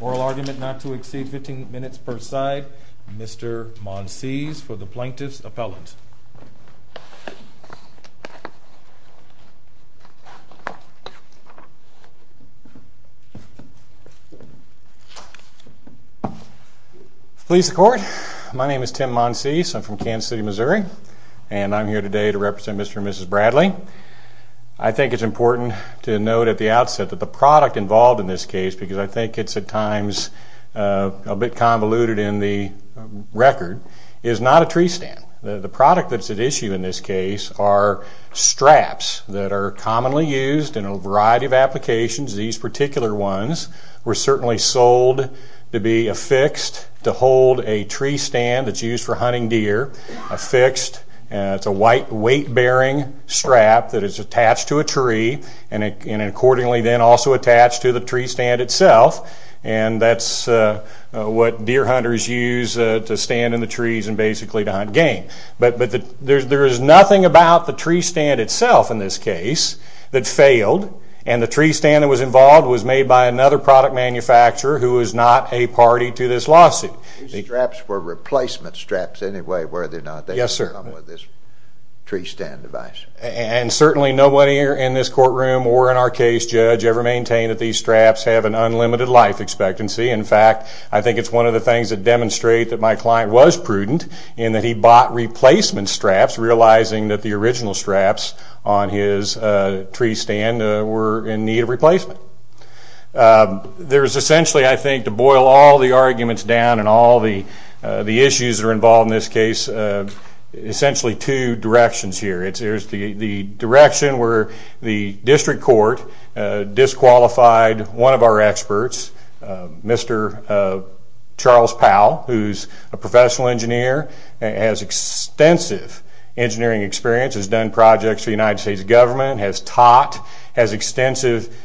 Oral argument not to exceed 15 minutes per side. Mr. Monsees for the plaintiff's appellant. Please the court. My name is Tim Monsees. I'm from Portland, Oregon. I'm here to defend Kansas City, Missouri. And I'm here today to represent Mr. and Mrs. Bradley. I think it's important to note at the outset that the product involved in this case, because I think it's at times a bit convoluted in the record, is not a tree stand. The product that's at issue in this case are straps that are commonly used in a variety of applications. These particular ones were certainly sold to be affixed to hold a tree stand that's affixed. It's a white weight-bearing strap that is attached to a tree and accordingly then also attached to the tree stand itself. And that's what deer hunters use to stand in the trees and basically to hunt game. But there is nothing about the tree stand itself in this case that failed. And the tree stand that was involved was made by another product manufacturer who is not a party to this lawsuit. These straps were replacement straps anyway were they not they would come with this tree stand device. And certainly nobody in this courtroom or in our case judge ever maintained that these straps have an unlimited life expectancy. In fact, I think it's one of the things that demonstrate that my client was prudent in that he bought replacement straps, realizing that the original straps on his tree stand were in need of replacement. There is essentially, I think, to boil all the arguments down and all the issues that are involved in this case, essentially two directions here. There's the direction where the district court disqualified one of our experts, Mr. Charles Powell, who's a professional engineer and has extensive engineering experience, has done projects for the United States government, has taught, has extensive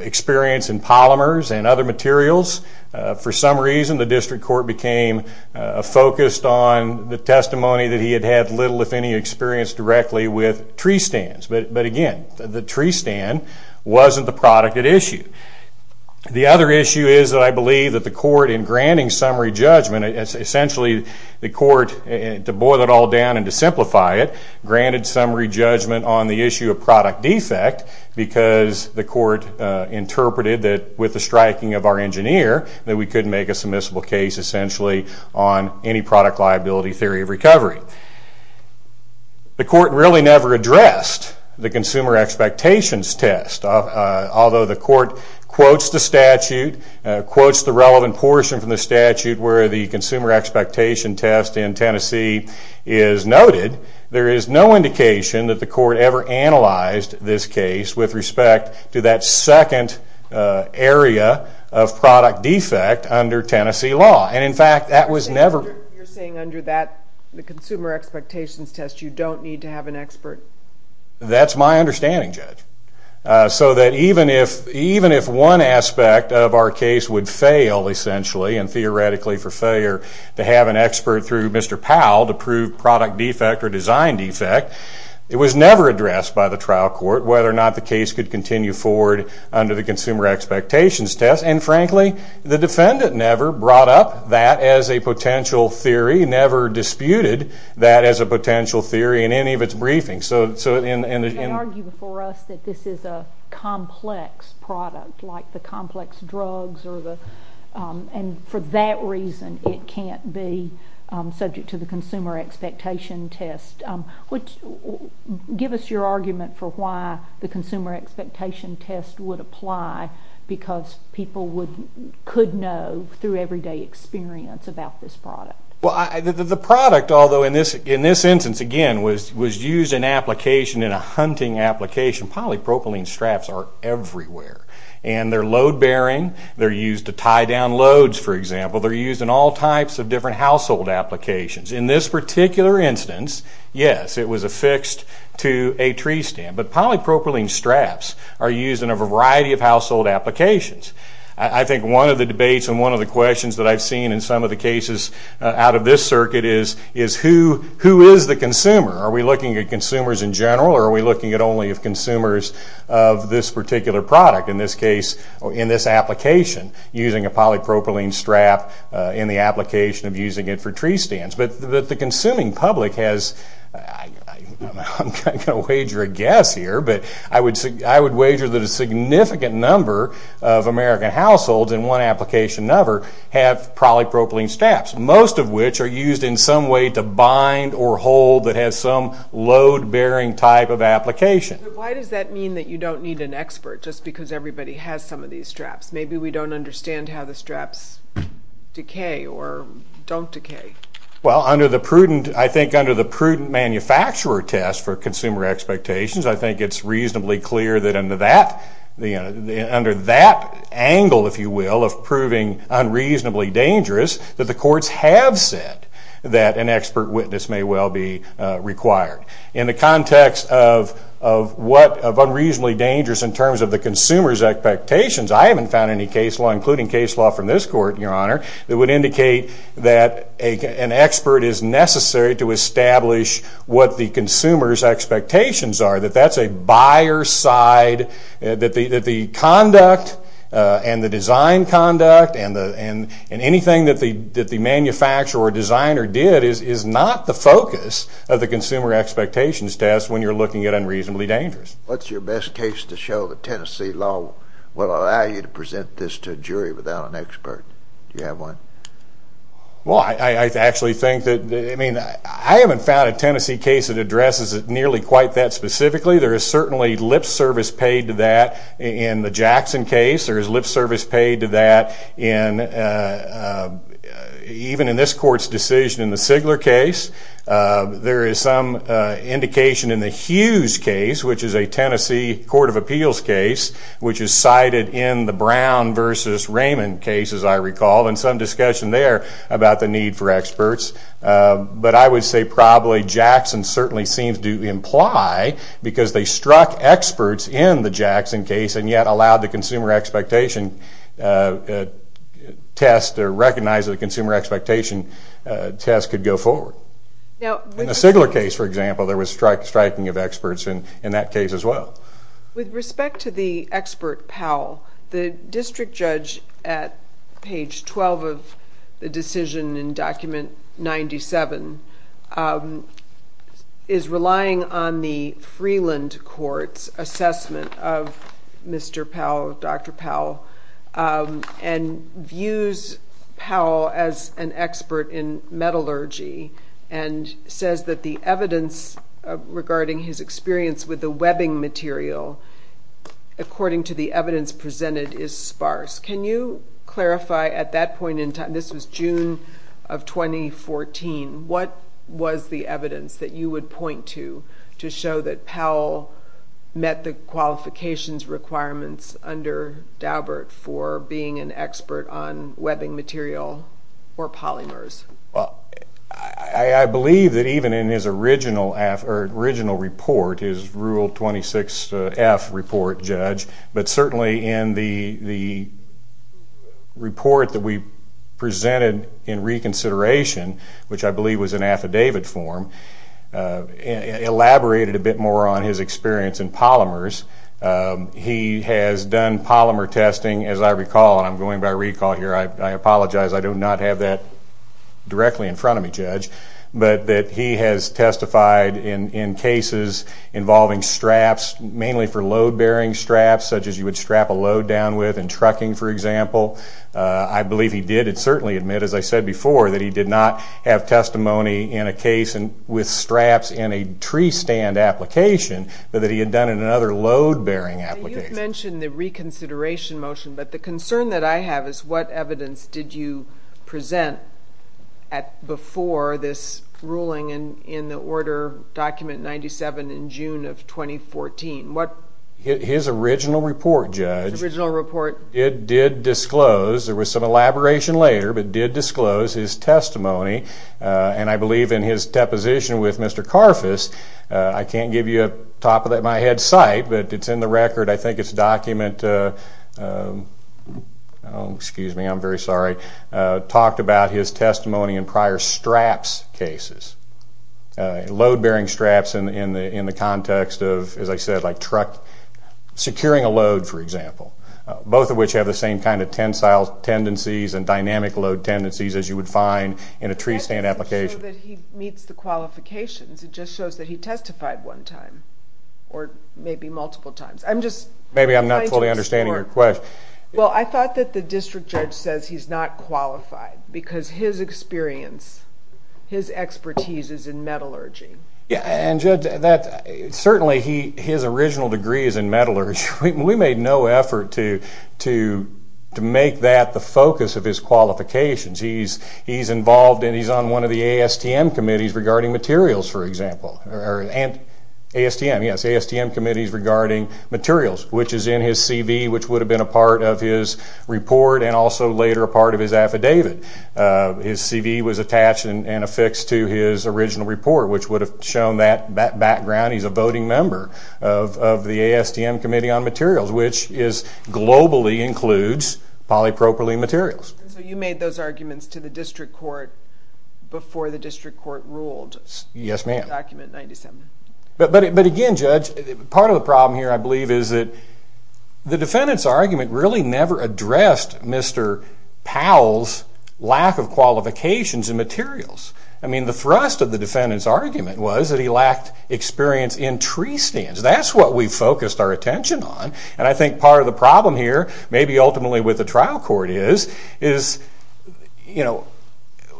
experience in polymers and other things, and therefore became focused on the testimony that he had had little if any experience directly with tree stands. But again, the tree stand wasn't the product at issue. The other issue is that I believe that the court in granting summary judgment, essentially the court, to boil it all down and to simplify it, granted summary judgment on the issue of product defect because the court interpreted that with the striking of our engineer that we couldn't make a submissible case essentially on any product liability theory of recovery. The court really never addressed the consumer expectations test. Although the court quotes the statute, quotes the relevant portion from the statute where the consumer expectation test in Tennessee is noted, there is no indication that the court ever analyzed this case with respect to that second area of product defect under Tennessee law. And in fact, that was never... You're saying under that, the consumer expectations test, you don't need to have an expert? That's my understanding, Judge. So that even if one aspect of our case would fail essentially and theoretically for failure to have an expert through Mr. Powell to prove product defect or design defect, it was never addressed by the trial court whether or not the case could continue forward under the consumer expectations test. And frankly, the defendant never brought up that as a potential theory, never disputed that as a potential theory in any of its briefings. So in... You can't argue before us that this is a complex product like the complex drugs or the... And for that reason, it can't be subject to the consumer expectation test. Give us your argument for why the consumer expectation test would apply because people could know through everyday experience about this product. The product, although in this instance, again, was used in application, in a hunting application. Polypropylene straps are everywhere. And they're load-bearing. They're used to tie down loads, for example. They're used in all types of different household applications. In this particular instance, yes, it was affixed to a tree stand. But polypropylene straps are used in a variety of household applications. I think one of the debates and one of the questions that I've seen in some of the cases out of this circuit is who is the consumer? Are we looking at consumers in general or are we looking at only consumers of this particular product? In this case, in this application, using a polypropylene strap in the application of using it for tree stands. But the consuming public has... I'm not going to wager a guess here, but I would wager that a significant number of American households in one application number have polypropylene straps, most of which are used in some way to bind or hold that has some load-bearing type of application. But why does that mean that you don't need an expert just because everybody has some of these straps? Maybe we don't understand how the straps decay or don't decay. Well, under the prudent... I think under the prudent manufacturer test for consumer expectations, I think it's reasonably clear that under that angle, if you will, of proving unreasonably dangerous, that the courts have said that an expert witness may well be required. In the context of what... of unreasonably dangerous in terms of the consumer's expectations, I haven't found any case law, including case law from this court, Your Honor, that would indicate that an expert is necessary to establish what the consumer's expectations are, that that's a buyer's side, that the conduct and the design conduct and anything that the manufacturer or designer did is not the focus of the consumer expectations test when you're looking at unreasonably dangerous. What's your best case to show the Tennessee law will allow you to present this to a jury without an expert? Do you have one? Well, I actually think that... I mean, I haven't found a Tennessee case that addresses it nearly quite that specifically. There is certainly lip service paid to that in the Jackson case. There is lip service paid to that in... even in this court's decision in the Sigler case. There is some indication in the Hughes case, which is a Tennessee court of appeals case, which is cited in the Brown versus Raymond case, as I recall, and some discussion there about the need for experts. But I would say probably Jackson certainly seems to imply because they struck experts in the Jackson case and yet allowed the consumer expectation test, or recognized that the consumer expectation test could go forward. Now, in the Sigler case, for example, there was striking of experts in that case as well. With respect to the expert, Powell, the district judge at page 12 of the decision in document 97 is relying on the Freeland Court's assessment of Mr. Powell, Dr. Powell, and views Powell as an expert in metallurgy and says that the evidence regarding his experience with the webbing material, according to the evidence presented, is sparse. Can you clarify at that point in time, this was June of 2014, what was the evidence that you would point to to show that Powell met the qualifications requirements under Daubert for being an expert on webbing material or polymers? I believe that even in his original report, his Rule 26F report, Judge, but certainly in the report that we presented in reconsideration, which I believe was in affidavit form, elaborated a bit more on his experience in polymers. He has done polymer testing, as I recall, and I'm going by recall here, I apologize, I do not have that directly in front of me, Judge, but that he has testified in cases involving straps, mainly for load-bearing straps, such as you would strap a load down with in trucking, for example. I believe he did certainly admit, as I said before, that he did not have testimony in a case with straps in a tree stand application, but that he had done in another load-bearing application. You mentioned the reconsideration motion, but the concern that I have is what evidence did you present before this ruling in the Order Document 97 in June of 2014? His original report, Judge, did disclose, there was some elaboration later, but did disclose his testimony, and I believe in his deposition with Mr. Karfus, I can't give you a top-of-my-head cite, but it's in the record, I think it's document, excuse me, I'm very sorry, talked about his testimony in prior straps cases, load-bearing straps in the context of, as I said, like truck securing a load, for example, both of which have the same kind of tensile tendencies and dynamic load tendencies as you would find in a tree stand application. That doesn't show that he meets the qualifications, it just shows that he testified one time, or maybe multiple times. I'm just trying to explore. Maybe I'm not fully understanding your question. Well, I thought that the district judge says he's not qualified, because his experience, his expertise is in metallurgy. Yeah, and Judge, certainly his original degree is in metallurgy. We made no effort to make that the focus of his qualifications. He's involved, and he's on one of the ASTM committees regarding materials, for example, or ASTM, yes, ASTM committees regarding materials, which is in his CV, which would have been a part of his report, and also later a part of his affidavit. His CV was attached and affixed to his original report, which would have shown that background. He's a voting member of the ASTM Committee on Materials, which is globally includes polypropylene materials. You made those arguments to the district court before the district court ruled? Yes, ma'am. Document 97. But again, Judge, part of the problem here, I believe, is that the defendant's argument really never addressed Mr. Powell's lack of qualifications in materials. I mean, the thrust of the defendant's argument was that he lacked experience in tree stands. That's what we focused our attention on, and I think part of the problem here, maybe ultimately with the trial court is, is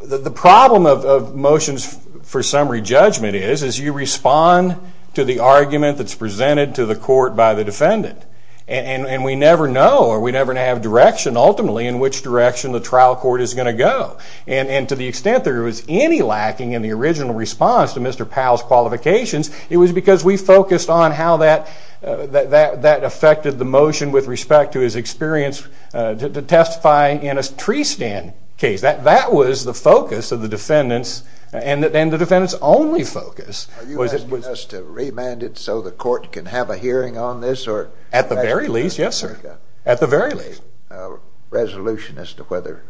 the problem of motions for summary judgment is, is you respond to the argument that's presented to the court by the defendant, and we never know, or we never have direction ultimately in which direction the trial court is going to go, and to the original response to Mr. Powell's qualifications, it was because we focused on how that, that affected the motion with respect to his experience to testify in a tree stand case. That, that was the focus of the defendant's, and the defendant's only focus was it was... Are you asking us to remand it so the court can have a hearing on this, or... At the very least, yes, sir. At the very least. ...a resolution as to whether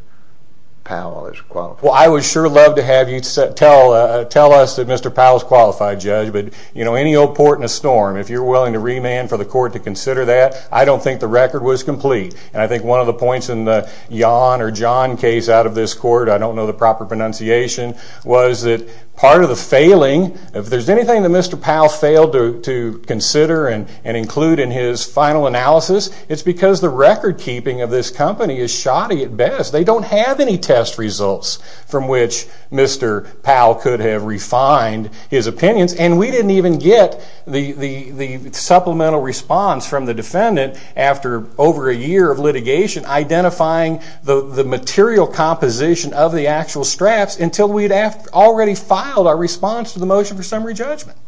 Powell is qualified? Well, I would sure love to have you tell us that Mr. Powell's qualified, Judge, but, you know, any old port in a storm, if you're willing to remand for the court to consider that, I don't think the record was complete, and I think one of the points in the Yawn or John case out of this court, I don't know the proper pronunciation, was that part of the failing, if there's anything that Mr. Powell failed to consider and include in his final analysis, it's because the record keeping of this company is shoddy at best. They don't have any test results from which Mr. Powell could have refined his opinions, and we didn't even get the, the, the supplemental response from the defendant after over a year of litigation identifying the, the material composition of the actual straps until we had already filed our response to the motion for summary judgment.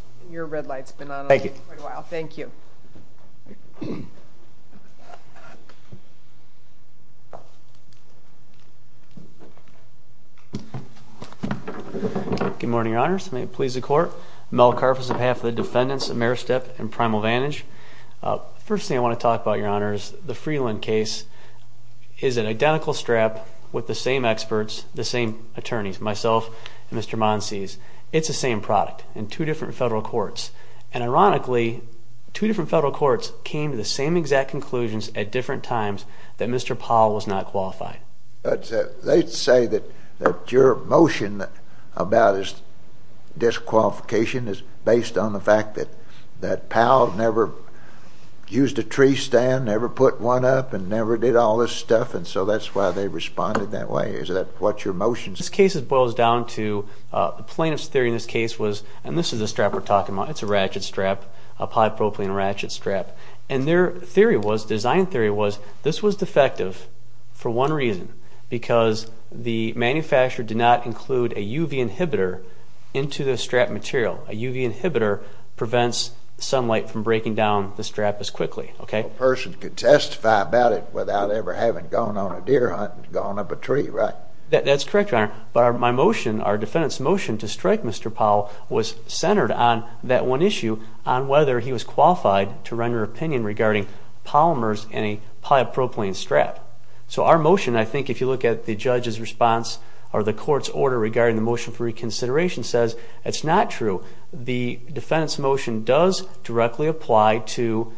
Thank you. Thank you. Good morning, Your Honors. May it please the Court. Mel Carf is on behalf of the defendants, Ameristep and Primal Vantage. First thing I want to talk about, Your Honors, the Freeland case is an identical strap with the same experts, the same attorneys, myself and Mr. Monsies. It's the same product in two different federal courts, and ironically, two different federal courts came to the same exact conclusions at different times that Mr. Powell was not qualified. They say that, that your motion about his disqualification is based on the fact that, that Powell never used a tree stand, never put one up, and never did all this stuff, and so that's why they responded that way. Is that what your motion is? This case boils down to, the plaintiff's theory in this case was, and this is the strap we're talking about, it's a ratchet strap, a polypropylene ratchet strap, and their theory was, design theory was, this was defective for one reason, because the manufacturer did not include a UV inhibitor into the strap material. A UV inhibitor prevents sunlight from breaking down the strap as quickly, okay? A person could testify about it without ever having gone on a deer hunt and gone up a tree, right? That's correct, Your Honor, but my motion, our defendant's motion to strike Mr. Powell was centered on that one issue, on whether he was qualified to render an opinion regarding polymers and a polypropylene strap. So, our motion, I think if you look at the judge's response, or the court's order regarding the motion for reconsideration says, it's not true. The defendant's motion does directly apply to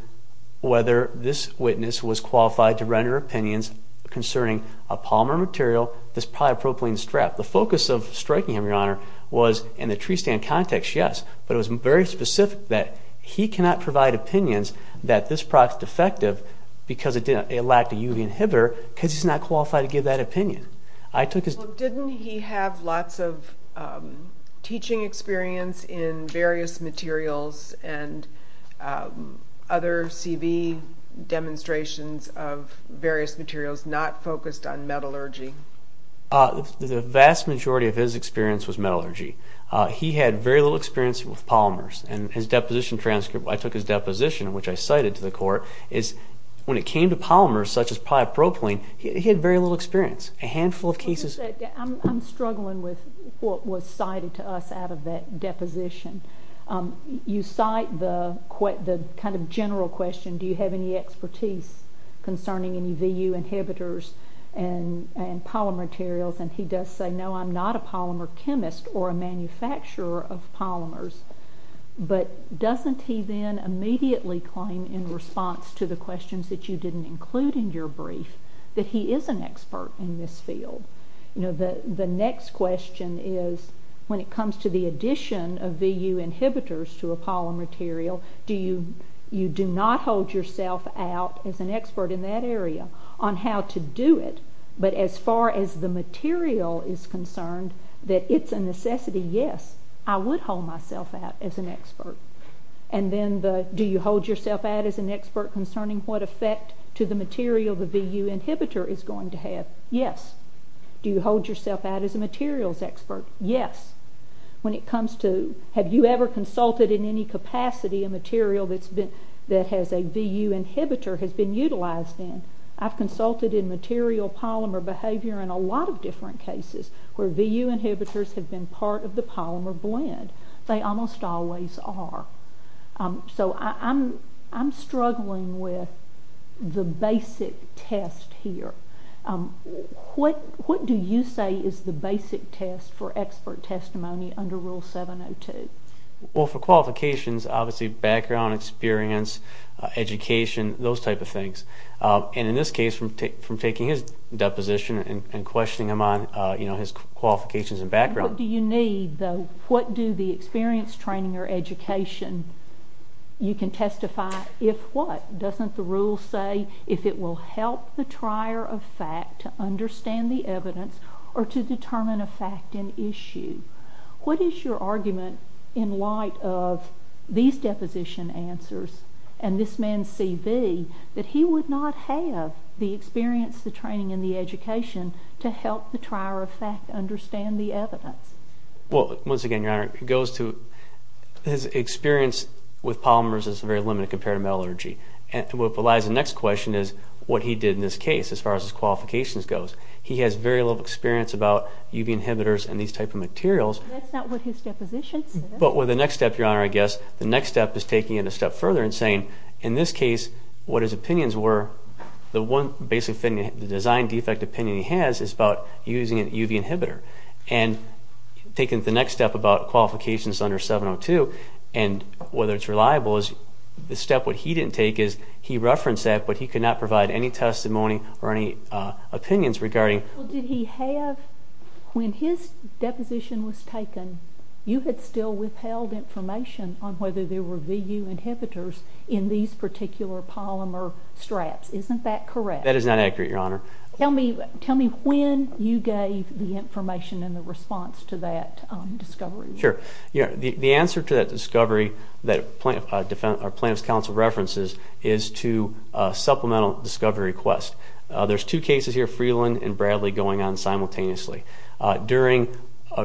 whether this witness was qualified to render opinions concerning a polymer material, this polypropylene strap. The focus of striking him, Your Honor, was in the tree stand context, yes, but it was very specific that he cannot provide opinions that this product's defective because it lacked a UV inhibitor, because he's not qualified to give that opinion. Well, didn't he have lots of teaching experience in various materials and other CV demonstrations of various materials, not focused on metallurgy? The vast majority of his experience was metallurgy. He had very little experience with polymers, and his deposition transcript, I took his deposition, which I cited to the court, is when it came to polymers, such as polypropylene, he had very little experience. A handful of cases... I'm struggling with what was cited to us out of that deposition. You cite the kind of general question, do you have any expertise concerning any VU inhibitors and polymer materials, and he does say, no, I'm not a polymer chemist or a manufacturer of polymers, but doesn't he then immediately claim in response to the questions that you didn't include in your brief that he is an expert in this field? The next question is, when it comes to the you do not hold yourself out as an expert in that area on how to do it, but as far as the material is concerned, that it's a necessity, yes, I would hold myself out as an expert. And then the, do you hold yourself out as an expert concerning what effect to the material the VU inhibitor is going to have? Yes. Do you hold yourself out as a materials expert? Yes. When it comes to, have you ever consulted in any capacity a material that's been, that has a VU inhibitor has been utilized in? I've consulted in material polymer behavior in a lot of different cases where VU inhibitors have been part of the polymer blend. They almost always are. So I'm struggling with the basic test here. What do you say is the basis for expert testimony under Rule 702? Well, for qualifications, obviously background experience, education, those type of things. And in this case, from taking his deposition and questioning him on, you know, his qualifications and background. What do you need, though? What do the experience, training, or education, you can testify if what? Doesn't the rule say if it will help the trier of fact to understand the evidence or to determine a fact in issue? What is your argument in light of these deposition answers and this man's CV that he would not have the experience, the training, and the education to help the trier of fact understand the evidence? Well, once again, Your Honor, it goes to, his experience with polymers is very limited compared to metallurgy. And what relies on the next question is what he did in this case as far as his qualifications goes. He has very little experience about UV inhibitors and these type of materials. That's not what his deposition says. But the next step, Your Honor, I guess, the next step is taking it a step further and saying, in this case, what his opinions were, the one basic opinion, the design defect opinion he has is about using a UV inhibitor. And taking the next step about qualifications under 702 and whether it's reliable is the step what he didn't take is he referenced that but he could not provide any testimony or any opinions regarding. Well, did he have, when his deposition was taken, you had still withheld information on whether there were VU inhibitors in these particular polymer straps. Isn't that correct? That is not accurate, Your Honor. Tell me when you gave the information and the response to that discovery. Sure. The answer to that discovery that plaintiff's counsel references is to supplemental discovery request. There's two cases here, Freeland and Bradley, going on simultaneously. During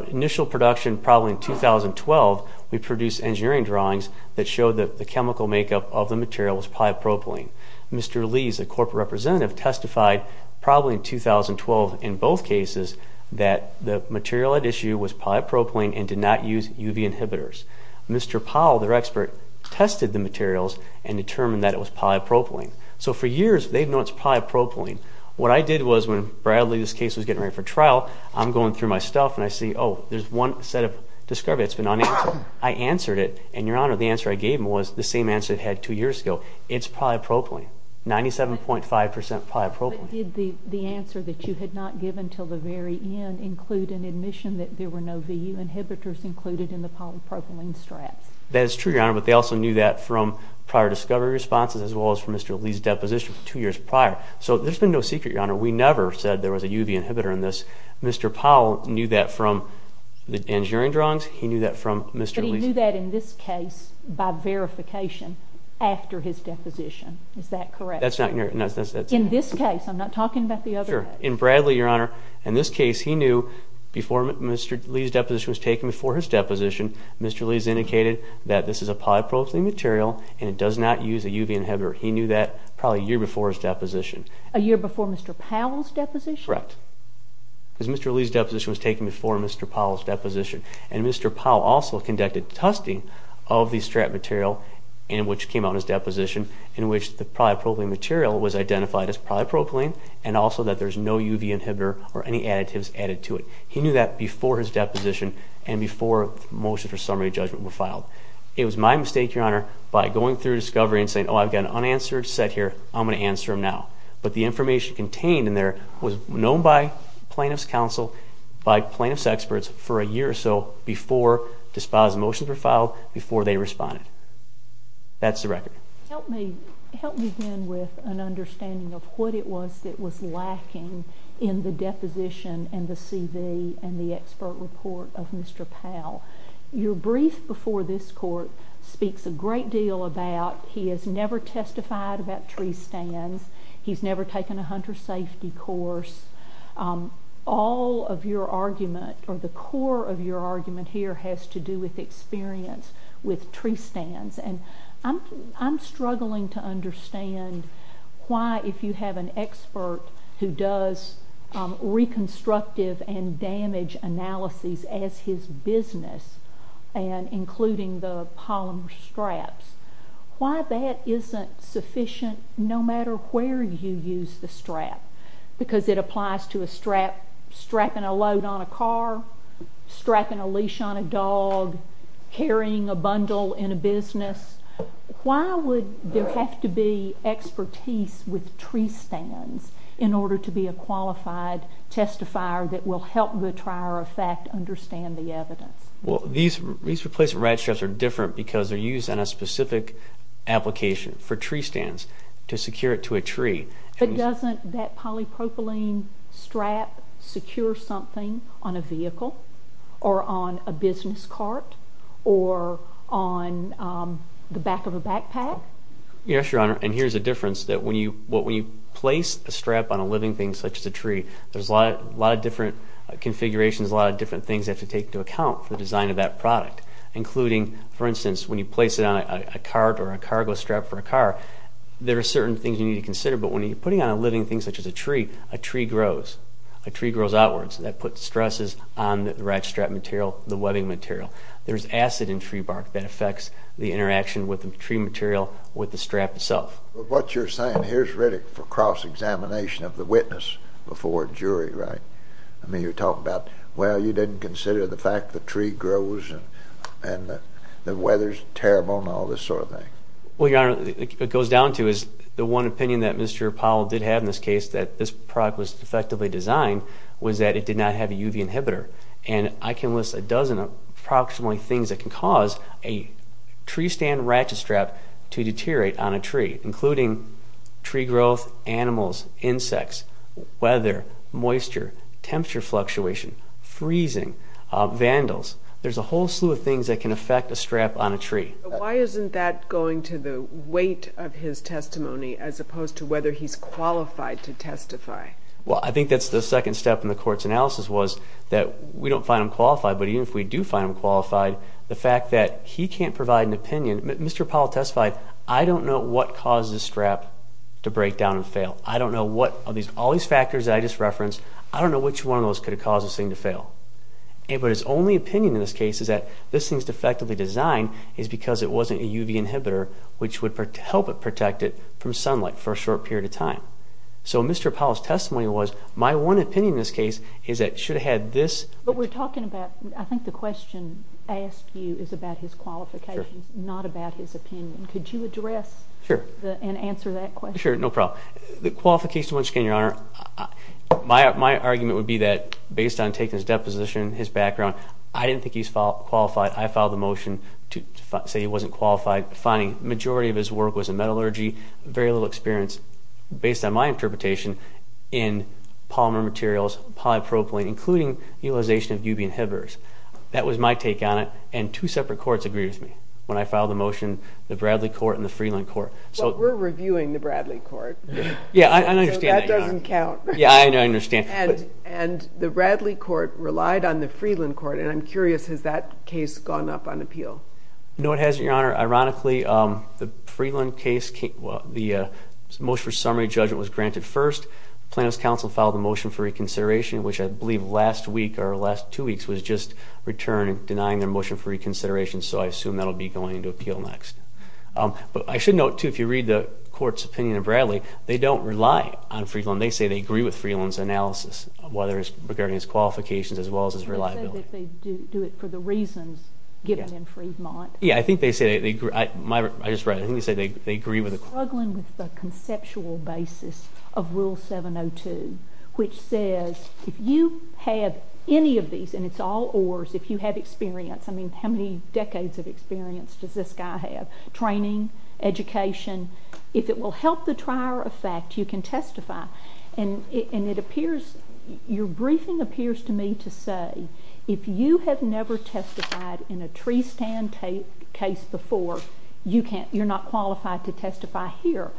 initial production, probably in 2012, we produced engineering drawings that showed that the chemical makeup of the material was polypropylene. Mr. Lee, the corporate representative, testified probably in 2012 in both cases that the material at issue was polypropylene and did not use UV inhibitors. Mr. Powell, their expert, tested the materials and determined that it was polypropylene. So, for years, they've known it's polypropylene. What I did was when Bradley's case was getting ready for trial, I'm going through my stuff and I see, oh, there's one set of discovery that's been unanswered. I answered it and, Your Honor, the answer I gave him was the same answer I had two years ago. It's polypropylene. 97.5% polypropylene. But did the answer that you had not given until the very end include an admission that there were no VU inhibitors included in the polypropylene straps? That is true, Your Honor, but they also knew that from prior discovery responses as well as from Mr. Lee's deposition two years prior. So, there's been no secret, Your Honor. We never said there was a UV inhibitor in this. Mr. Powell knew that from the engineering drawings. He knew that from Mr. Lee's... But he knew that in this case by verification after his deposition. Is that correct? That's not... In this case. I'm not talking about the other case. Sure. In Bradley, Your Honor, in this case, he knew before Mr. Lee's deposition was taken, before his deposition, Mr. Lee's indicated that this is a polypropylene material and it does not use a UV inhibitor. He knew that probably a year before his deposition. A year before Mr. Powell's deposition? Correct. Because Mr. Lee's deposition was taken before Mr. Powell's deposition. And Mr. Powell also conducted testing of the strap material which came out of his deposition in which the polypropylene material was identified as polypropylene and also that there's no UV inhibitor or any additives added to it. He knew that before his deposition and before the motion for summary judgment were filed. It was my mistake, Your Honor, by going through discovery and saying, oh, I've got an unanswered set here. I'm going to answer them now. But the information contained in there was known by plaintiff's counsel, by plaintiff's experts for a year or so before the motions were filed, before they responded. That's the record. Help me begin with an understanding of what it was that was lacking in the deposition and the CV and the expert report of Mr. Powell. Your brief before this court speaks a great deal about he has never testified about tree stands. He's never taken a hunter safety course. All of your argument or the core of your argument here has to do with experience with tree stands. I'm struggling to understand why, if you have an expert who does reconstructive and damage analyses as his business, including the polymer straps, why that isn't sufficient no matter where you use the strap, because it applies to a strap, strapping a load on a car, strapping a leash on a dog, carrying a bundle in a business. Why would there have to be expertise with tree stands in order to be a qualified testifier that will help the trier of fact understand the evidence? These replacement rat straps are different because they're used in a specific application for tree stands to secure it to a tree. But doesn't that polypropylene strap secure something on a vehicle or on a business cart or on the back of a backpack? Yes, Your Honor, and here's the difference. When you place a strap on a living thing such as a tree, there's a lot of different configurations, a lot of different things that have to take into account for the design of that product, including, for instance, when you place it on a cart or a cargo strap for a car, there are certain things you need to consider, but when you're putting it on a living thing such as a tree, a tree grows. A tree grows outwards, and that puts stresses on the rat strap material, the webbing material. There's acid in tree bark that affects the interaction with the tree material, with the strap itself. But what you're saying, here's Riddick for cross-examination of the witness before jury, right? I mean, you're talking about, well, you didn't consider the fact the tree grows and the weather's terrible and all this sort of thing. Well, Your Honor, it goes down to is the one opinion that Mr. Powell did have in this case, that this product was effectively designed, was that it did not have a UV inhibitor. And I can list a dozen approximately things that can cause a tree stand ratchet strap to deteriorate on a tree, including tree growth, animals, insects, weather, moisture, temperature fluctuation, freezing, vandals. There's a whole slew of things that can affect a strap on a tree. Why isn't that going to the weight of his testimony as opposed to whether he's qualified to testify? Well, I think that's the second step in the court's analysis was that we don't find him qualified, but even if we do find him qualified, the fact that he can't provide an opinion. Mr. Powell testified, I don't know what causes a strap to break down and fail. I don't know what, all these factors I just referenced, I don't know which one of those could have caused this thing to fail. But his only opinion in this case is that this thing's effectively designed is because it wasn't a UV inhibitor, which would help it protect it from sunlight for a short period of time. So Mr. Powell's testimony was, my one opinion in this case is that it should have had this... But we're talking about, I think the question I asked you is about his qualifications, not about his opinion. Could you address and answer that question? Sure, no problem. The qualifications, once again, Your Honor, my argument would be that based on taking his deposition, his background, I didn't think he's qualified. I filed the motion to say he wasn't qualified, finding the majority of his work was in metallurgy, very little experience, based on my interpretation, in polymer materials, polypropylene, including utilization of UV inhibitors. That was my take on it, and two separate courts agreed with me when I filed the motion, the Bradley Court and the Freeland Court. But we're reviewing the Bradley Court. Yeah, I understand that, Your Honor. So that doesn't count. Yeah, I understand. And the Bradley Court relied on the Freeland Court, and I'm curious, has that case gone up on appeal? No, it hasn't, Your Honor. Ironically, the Freeland case, the motion for summary judgment was granted first, Plano's counsel filed a motion for reconsideration, which I believe last week or the last two weeks was just returned denying their motion for reconsideration, so I assume that'll be going into appeal next. But I should note, too, if you read the court's opinion of Bradley, they don't rely on Freeland. They say they agree with Freeland's analysis, whether it's regarding his qualifications as well as his reliability. They say that they do it for the reasons given in Freedmont. Yeah, I think they say they agree. I just read it. I think they say they agree with it. Struggling with the conceptual basis of Rule 702, which says if you have any of these, and it's all ors, if you have experience, I mean, how many decades of experience does this guy have? Training, education, if it will help the trier of fact, you can testify. And it appears, your briefing appears to me to say, if you have never testified in a tree stand case before, you're not qualified to testify here.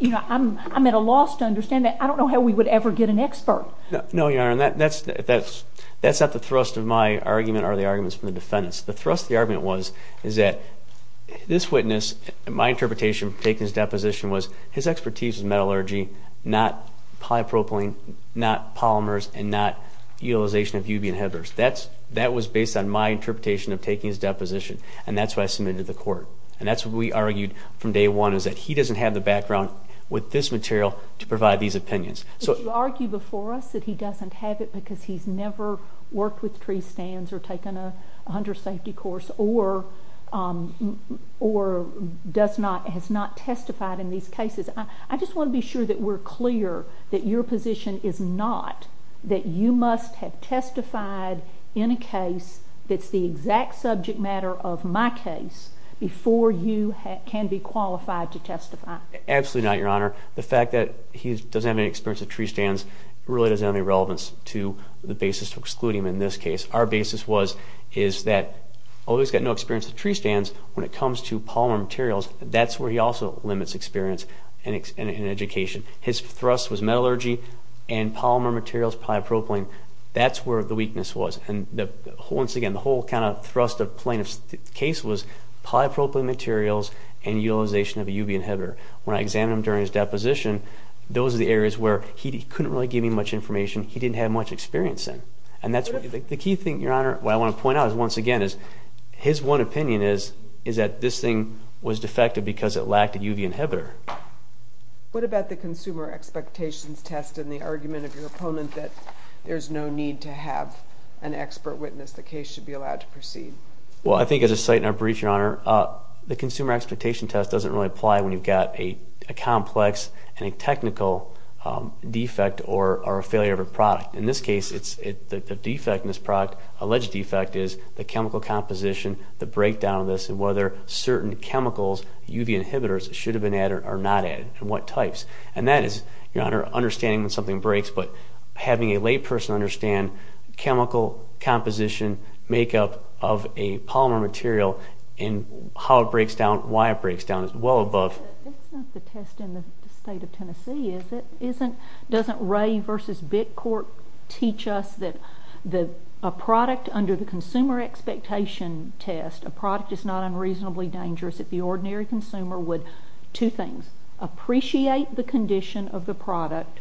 I'm at a loss to understand that. I don't know how we would ever get an expert. No, Your Honor, that's not the thrust of my argument or the arguments of the defendants. The thrust of the argument was that this witness, my interpretation of taking his deposition, was his expertise was metallurgy, not polypropylene, not polymers, and not utilization of UV inhibitors. That was based on my interpretation of taking his deposition, and that's why I submitted to the court. And that's what we argued from day one, is that he doesn't have the background with this material to provide these opinions. But you argue before us that he doesn't have it because he's never worked with tree stands, or taken a hunter safety course, or has not testified in these cases. I just want to be sure that we're clear that your position is not that you must have testified in a case that's the exact subject matter of my case before you can be qualified to testify. Absolutely not, Your Honor. The fact that he doesn't have any experience with tree stands really doesn't have any relevance to the basis to exclude him in this case. Our basis is that, although he's got no experience with tree stands, when it comes to polymer materials, that's where he also limits experience and education. His thrust was metallurgy, and polymer materials, polypropylene, that's where the weakness was. Once again, the whole thrust of the plaintiff's case was polypropylene materials and utilization of a UV inhibitor. When I examined him during his deposition, those are the areas where he couldn't really give me much information, he didn't have much experience in. The key thing, Your Honor, that I want to point out, once again, is his one opinion is that this thing was defective because it lacked a UV inhibitor. What about the consumer expectations test and the argument of your opponent that there's no need to have an expert witness, the case should be allowed to proceed? Well, I think as a site in our breach, Your Honor, the consumer expectations test doesn't really apply when you've got a complex and a technical defect or a failure of a product. In this case, the defect in this product, alleged defect, is the chemical composition, the breakdown of this, and whether certain chemicals, UV inhibitors, should have been added or not added, and what types. And that is, Your Honor, understanding when something breaks, but having a layperson understand chemical composition, makeup of a polymer material, and how it breaks down, why it breaks down, is well above... But that's not the test in the state of Tennessee, is it? Doesn't Ray v. Bittcourt teach us that a product under the consumer expectations test, a product is not unreasonably dangerous if the ordinary consumer would, two things, appreciate the condition of the product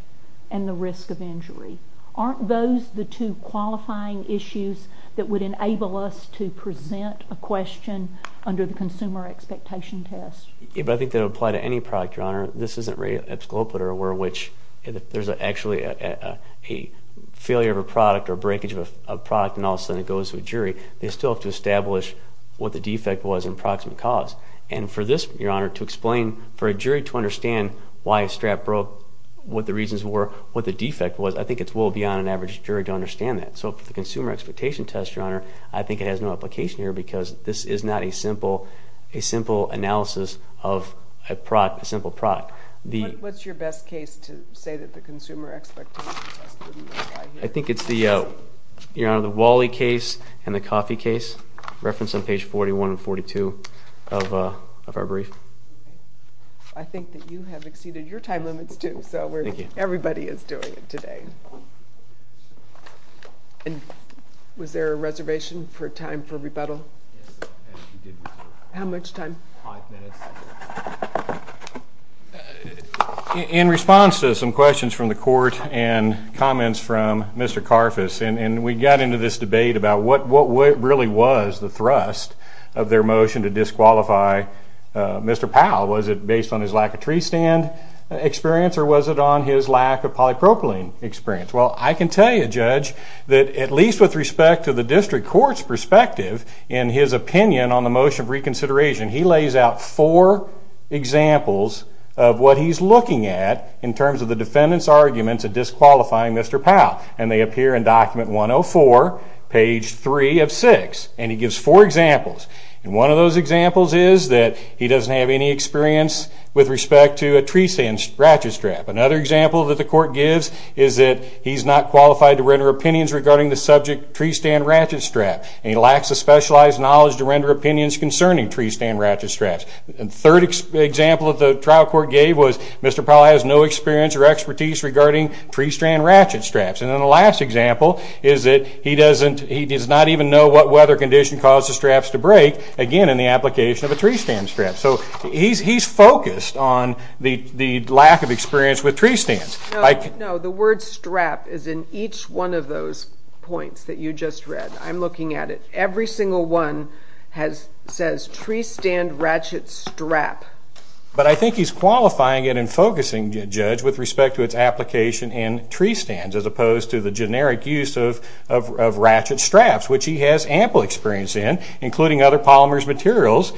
and the risk of injury. Aren't those the two qualifying issues that would enable us to present a question under the consumer expectations test? Yeah, but I think that it would apply to any product, Your Honor. This isn't Ray, Epsculopator, where there's actually a failure of a product or a breakage of a product and all of a sudden it goes to a jury. They still have to establish what the defect was and the proximate cause. And for this, Your Honor, to explain, for a jury to understand why a strap broke, what the reasons were, what the defect was, I think it's well beyond an average jury to understand that. So for the consumer expectations test, Your Honor, I think it has no application here because this is not a simple analysis of a simple product. What's your best case to say that the consumer expectations test wouldn't apply here? I think it's the Wally case and the coffee case, referenced on page 41 and 42 of our brief. I think that you have exceeded your time limits too, so everybody is doing it today. Thank you. Was there a reservation for time for rebuttal? How much time? Five minutes. In response to some questions from the court and comments from Mr. Karfus, and we got into this debate about what really was the thrust of their motion to disqualify Mr. Powell. Was it based on his lack of tree stand experience or was it on his lack of polypropylene experience? Well, I can tell you, Judge, that at least with respect to the district court's perspective, in his opinion on the motion of reconsideration, he lays out four examples of what he's looking at in terms of the defendant's arguments of disqualifying Mr. Powell. And they appear in document 104, page 3 of 6. And he gives four examples. And one of those examples is that he doesn't have any experience with respect to a tree stand ratchet strap. Another example that the court gives is that he's not qualified to render opinions regarding the subject tree stand ratchet strap. And he lacks the specialized knowledge to render opinions concerning tree stand ratchet straps. The third example that the trial court gave was Mr. Powell has no experience or expertise regarding tree stand ratchet straps. And then the last example is that he does not even know what weather condition caused the straps to break, again in the application of a tree stand strap. So he's focused on the lack of experience with tree stands. No, the word strap is in each one of those points that you just read. I'm looking at it. Every single one says tree stand ratchet strap. But I think he's qualifying it and focusing, Judge, with respect to its application in tree stands as opposed to the generic use of ratchet straps, which he has ample experience in, including other polymers materials,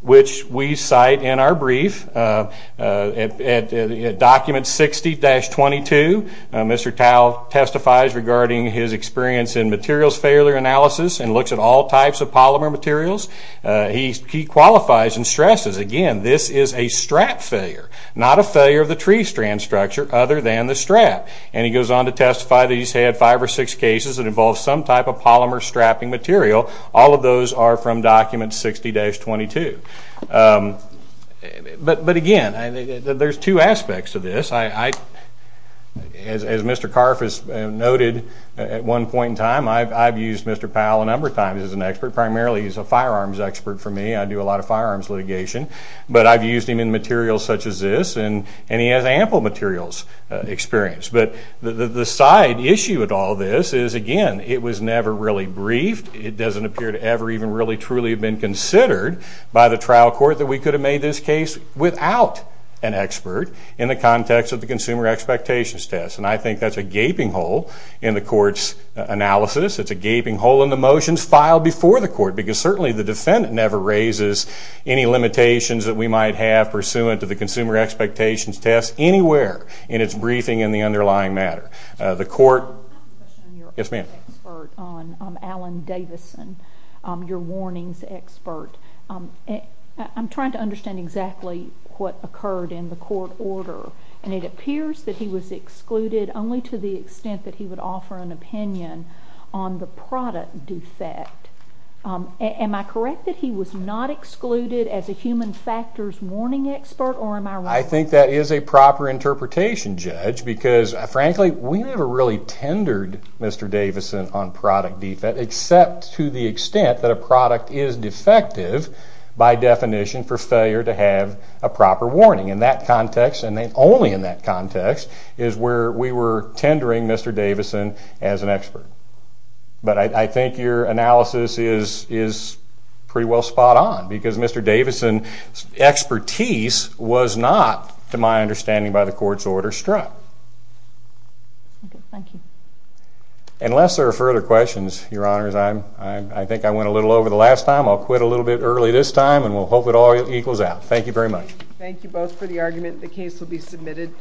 which we cite in our brief. At document 60-22, Mr. Powell testifies regarding his experience in materials failure analysis and looks at all types of polymer materials. He qualifies and stresses, again, this is a strap failure, not a failure of the tree stand structure other than the strap. And he goes on to testify that he's had five or six cases that involve some type of polymer strapping material. All of those are from document 60-22. But again, there's two aspects to this. As Mr. Karff has noted at one point in time, I've used Mr. Powell a number of times as an expert. Primarily he's a firearms expert for me. I do a lot of firearms litigation. But I've used him in materials such as this, and he has ample materials experience. But the side issue with all this is, again, it was never really briefed. It doesn't appear to ever even really truly have been considered by the trial court that we could have made this case without an expert in the context of the consumer expectations test. And I think that's a gaping hole in the court's analysis. It's a gaping hole in the motions filed before the court because certainly the defendant never raises any limitations that we might have pursuant to the consumer expectations test anywhere in its briefing and the underlying matter. The court- I have a question on your own expert on Alan Davison, your warnings expert. I'm trying to understand exactly what occurred in the court order. And it appears that he was excluded only to the extent that he would offer an opinion on the product defect. Am I correct that he was not excluded as a human factors warning expert, or am I wrong? I think that is a proper interpretation, Judge, because frankly we never really tendered Mr. Davison on product defect except to the extent that a product is defective by definition for failure to have a proper warning. In that context, and only in that context, is where we were tendering Mr. Davison as an expert. But I think your analysis is pretty well spot on, because Mr. Davison's expertise was not, to my understanding by the court's order, struck. Okay, thank you. Unless there are further questions, Your Honors, I think I went a little over the last time. I'll quit a little bit early this time and we'll hope it all equals out. Thank you very much. Thank you both for the argument. The case will be submitted.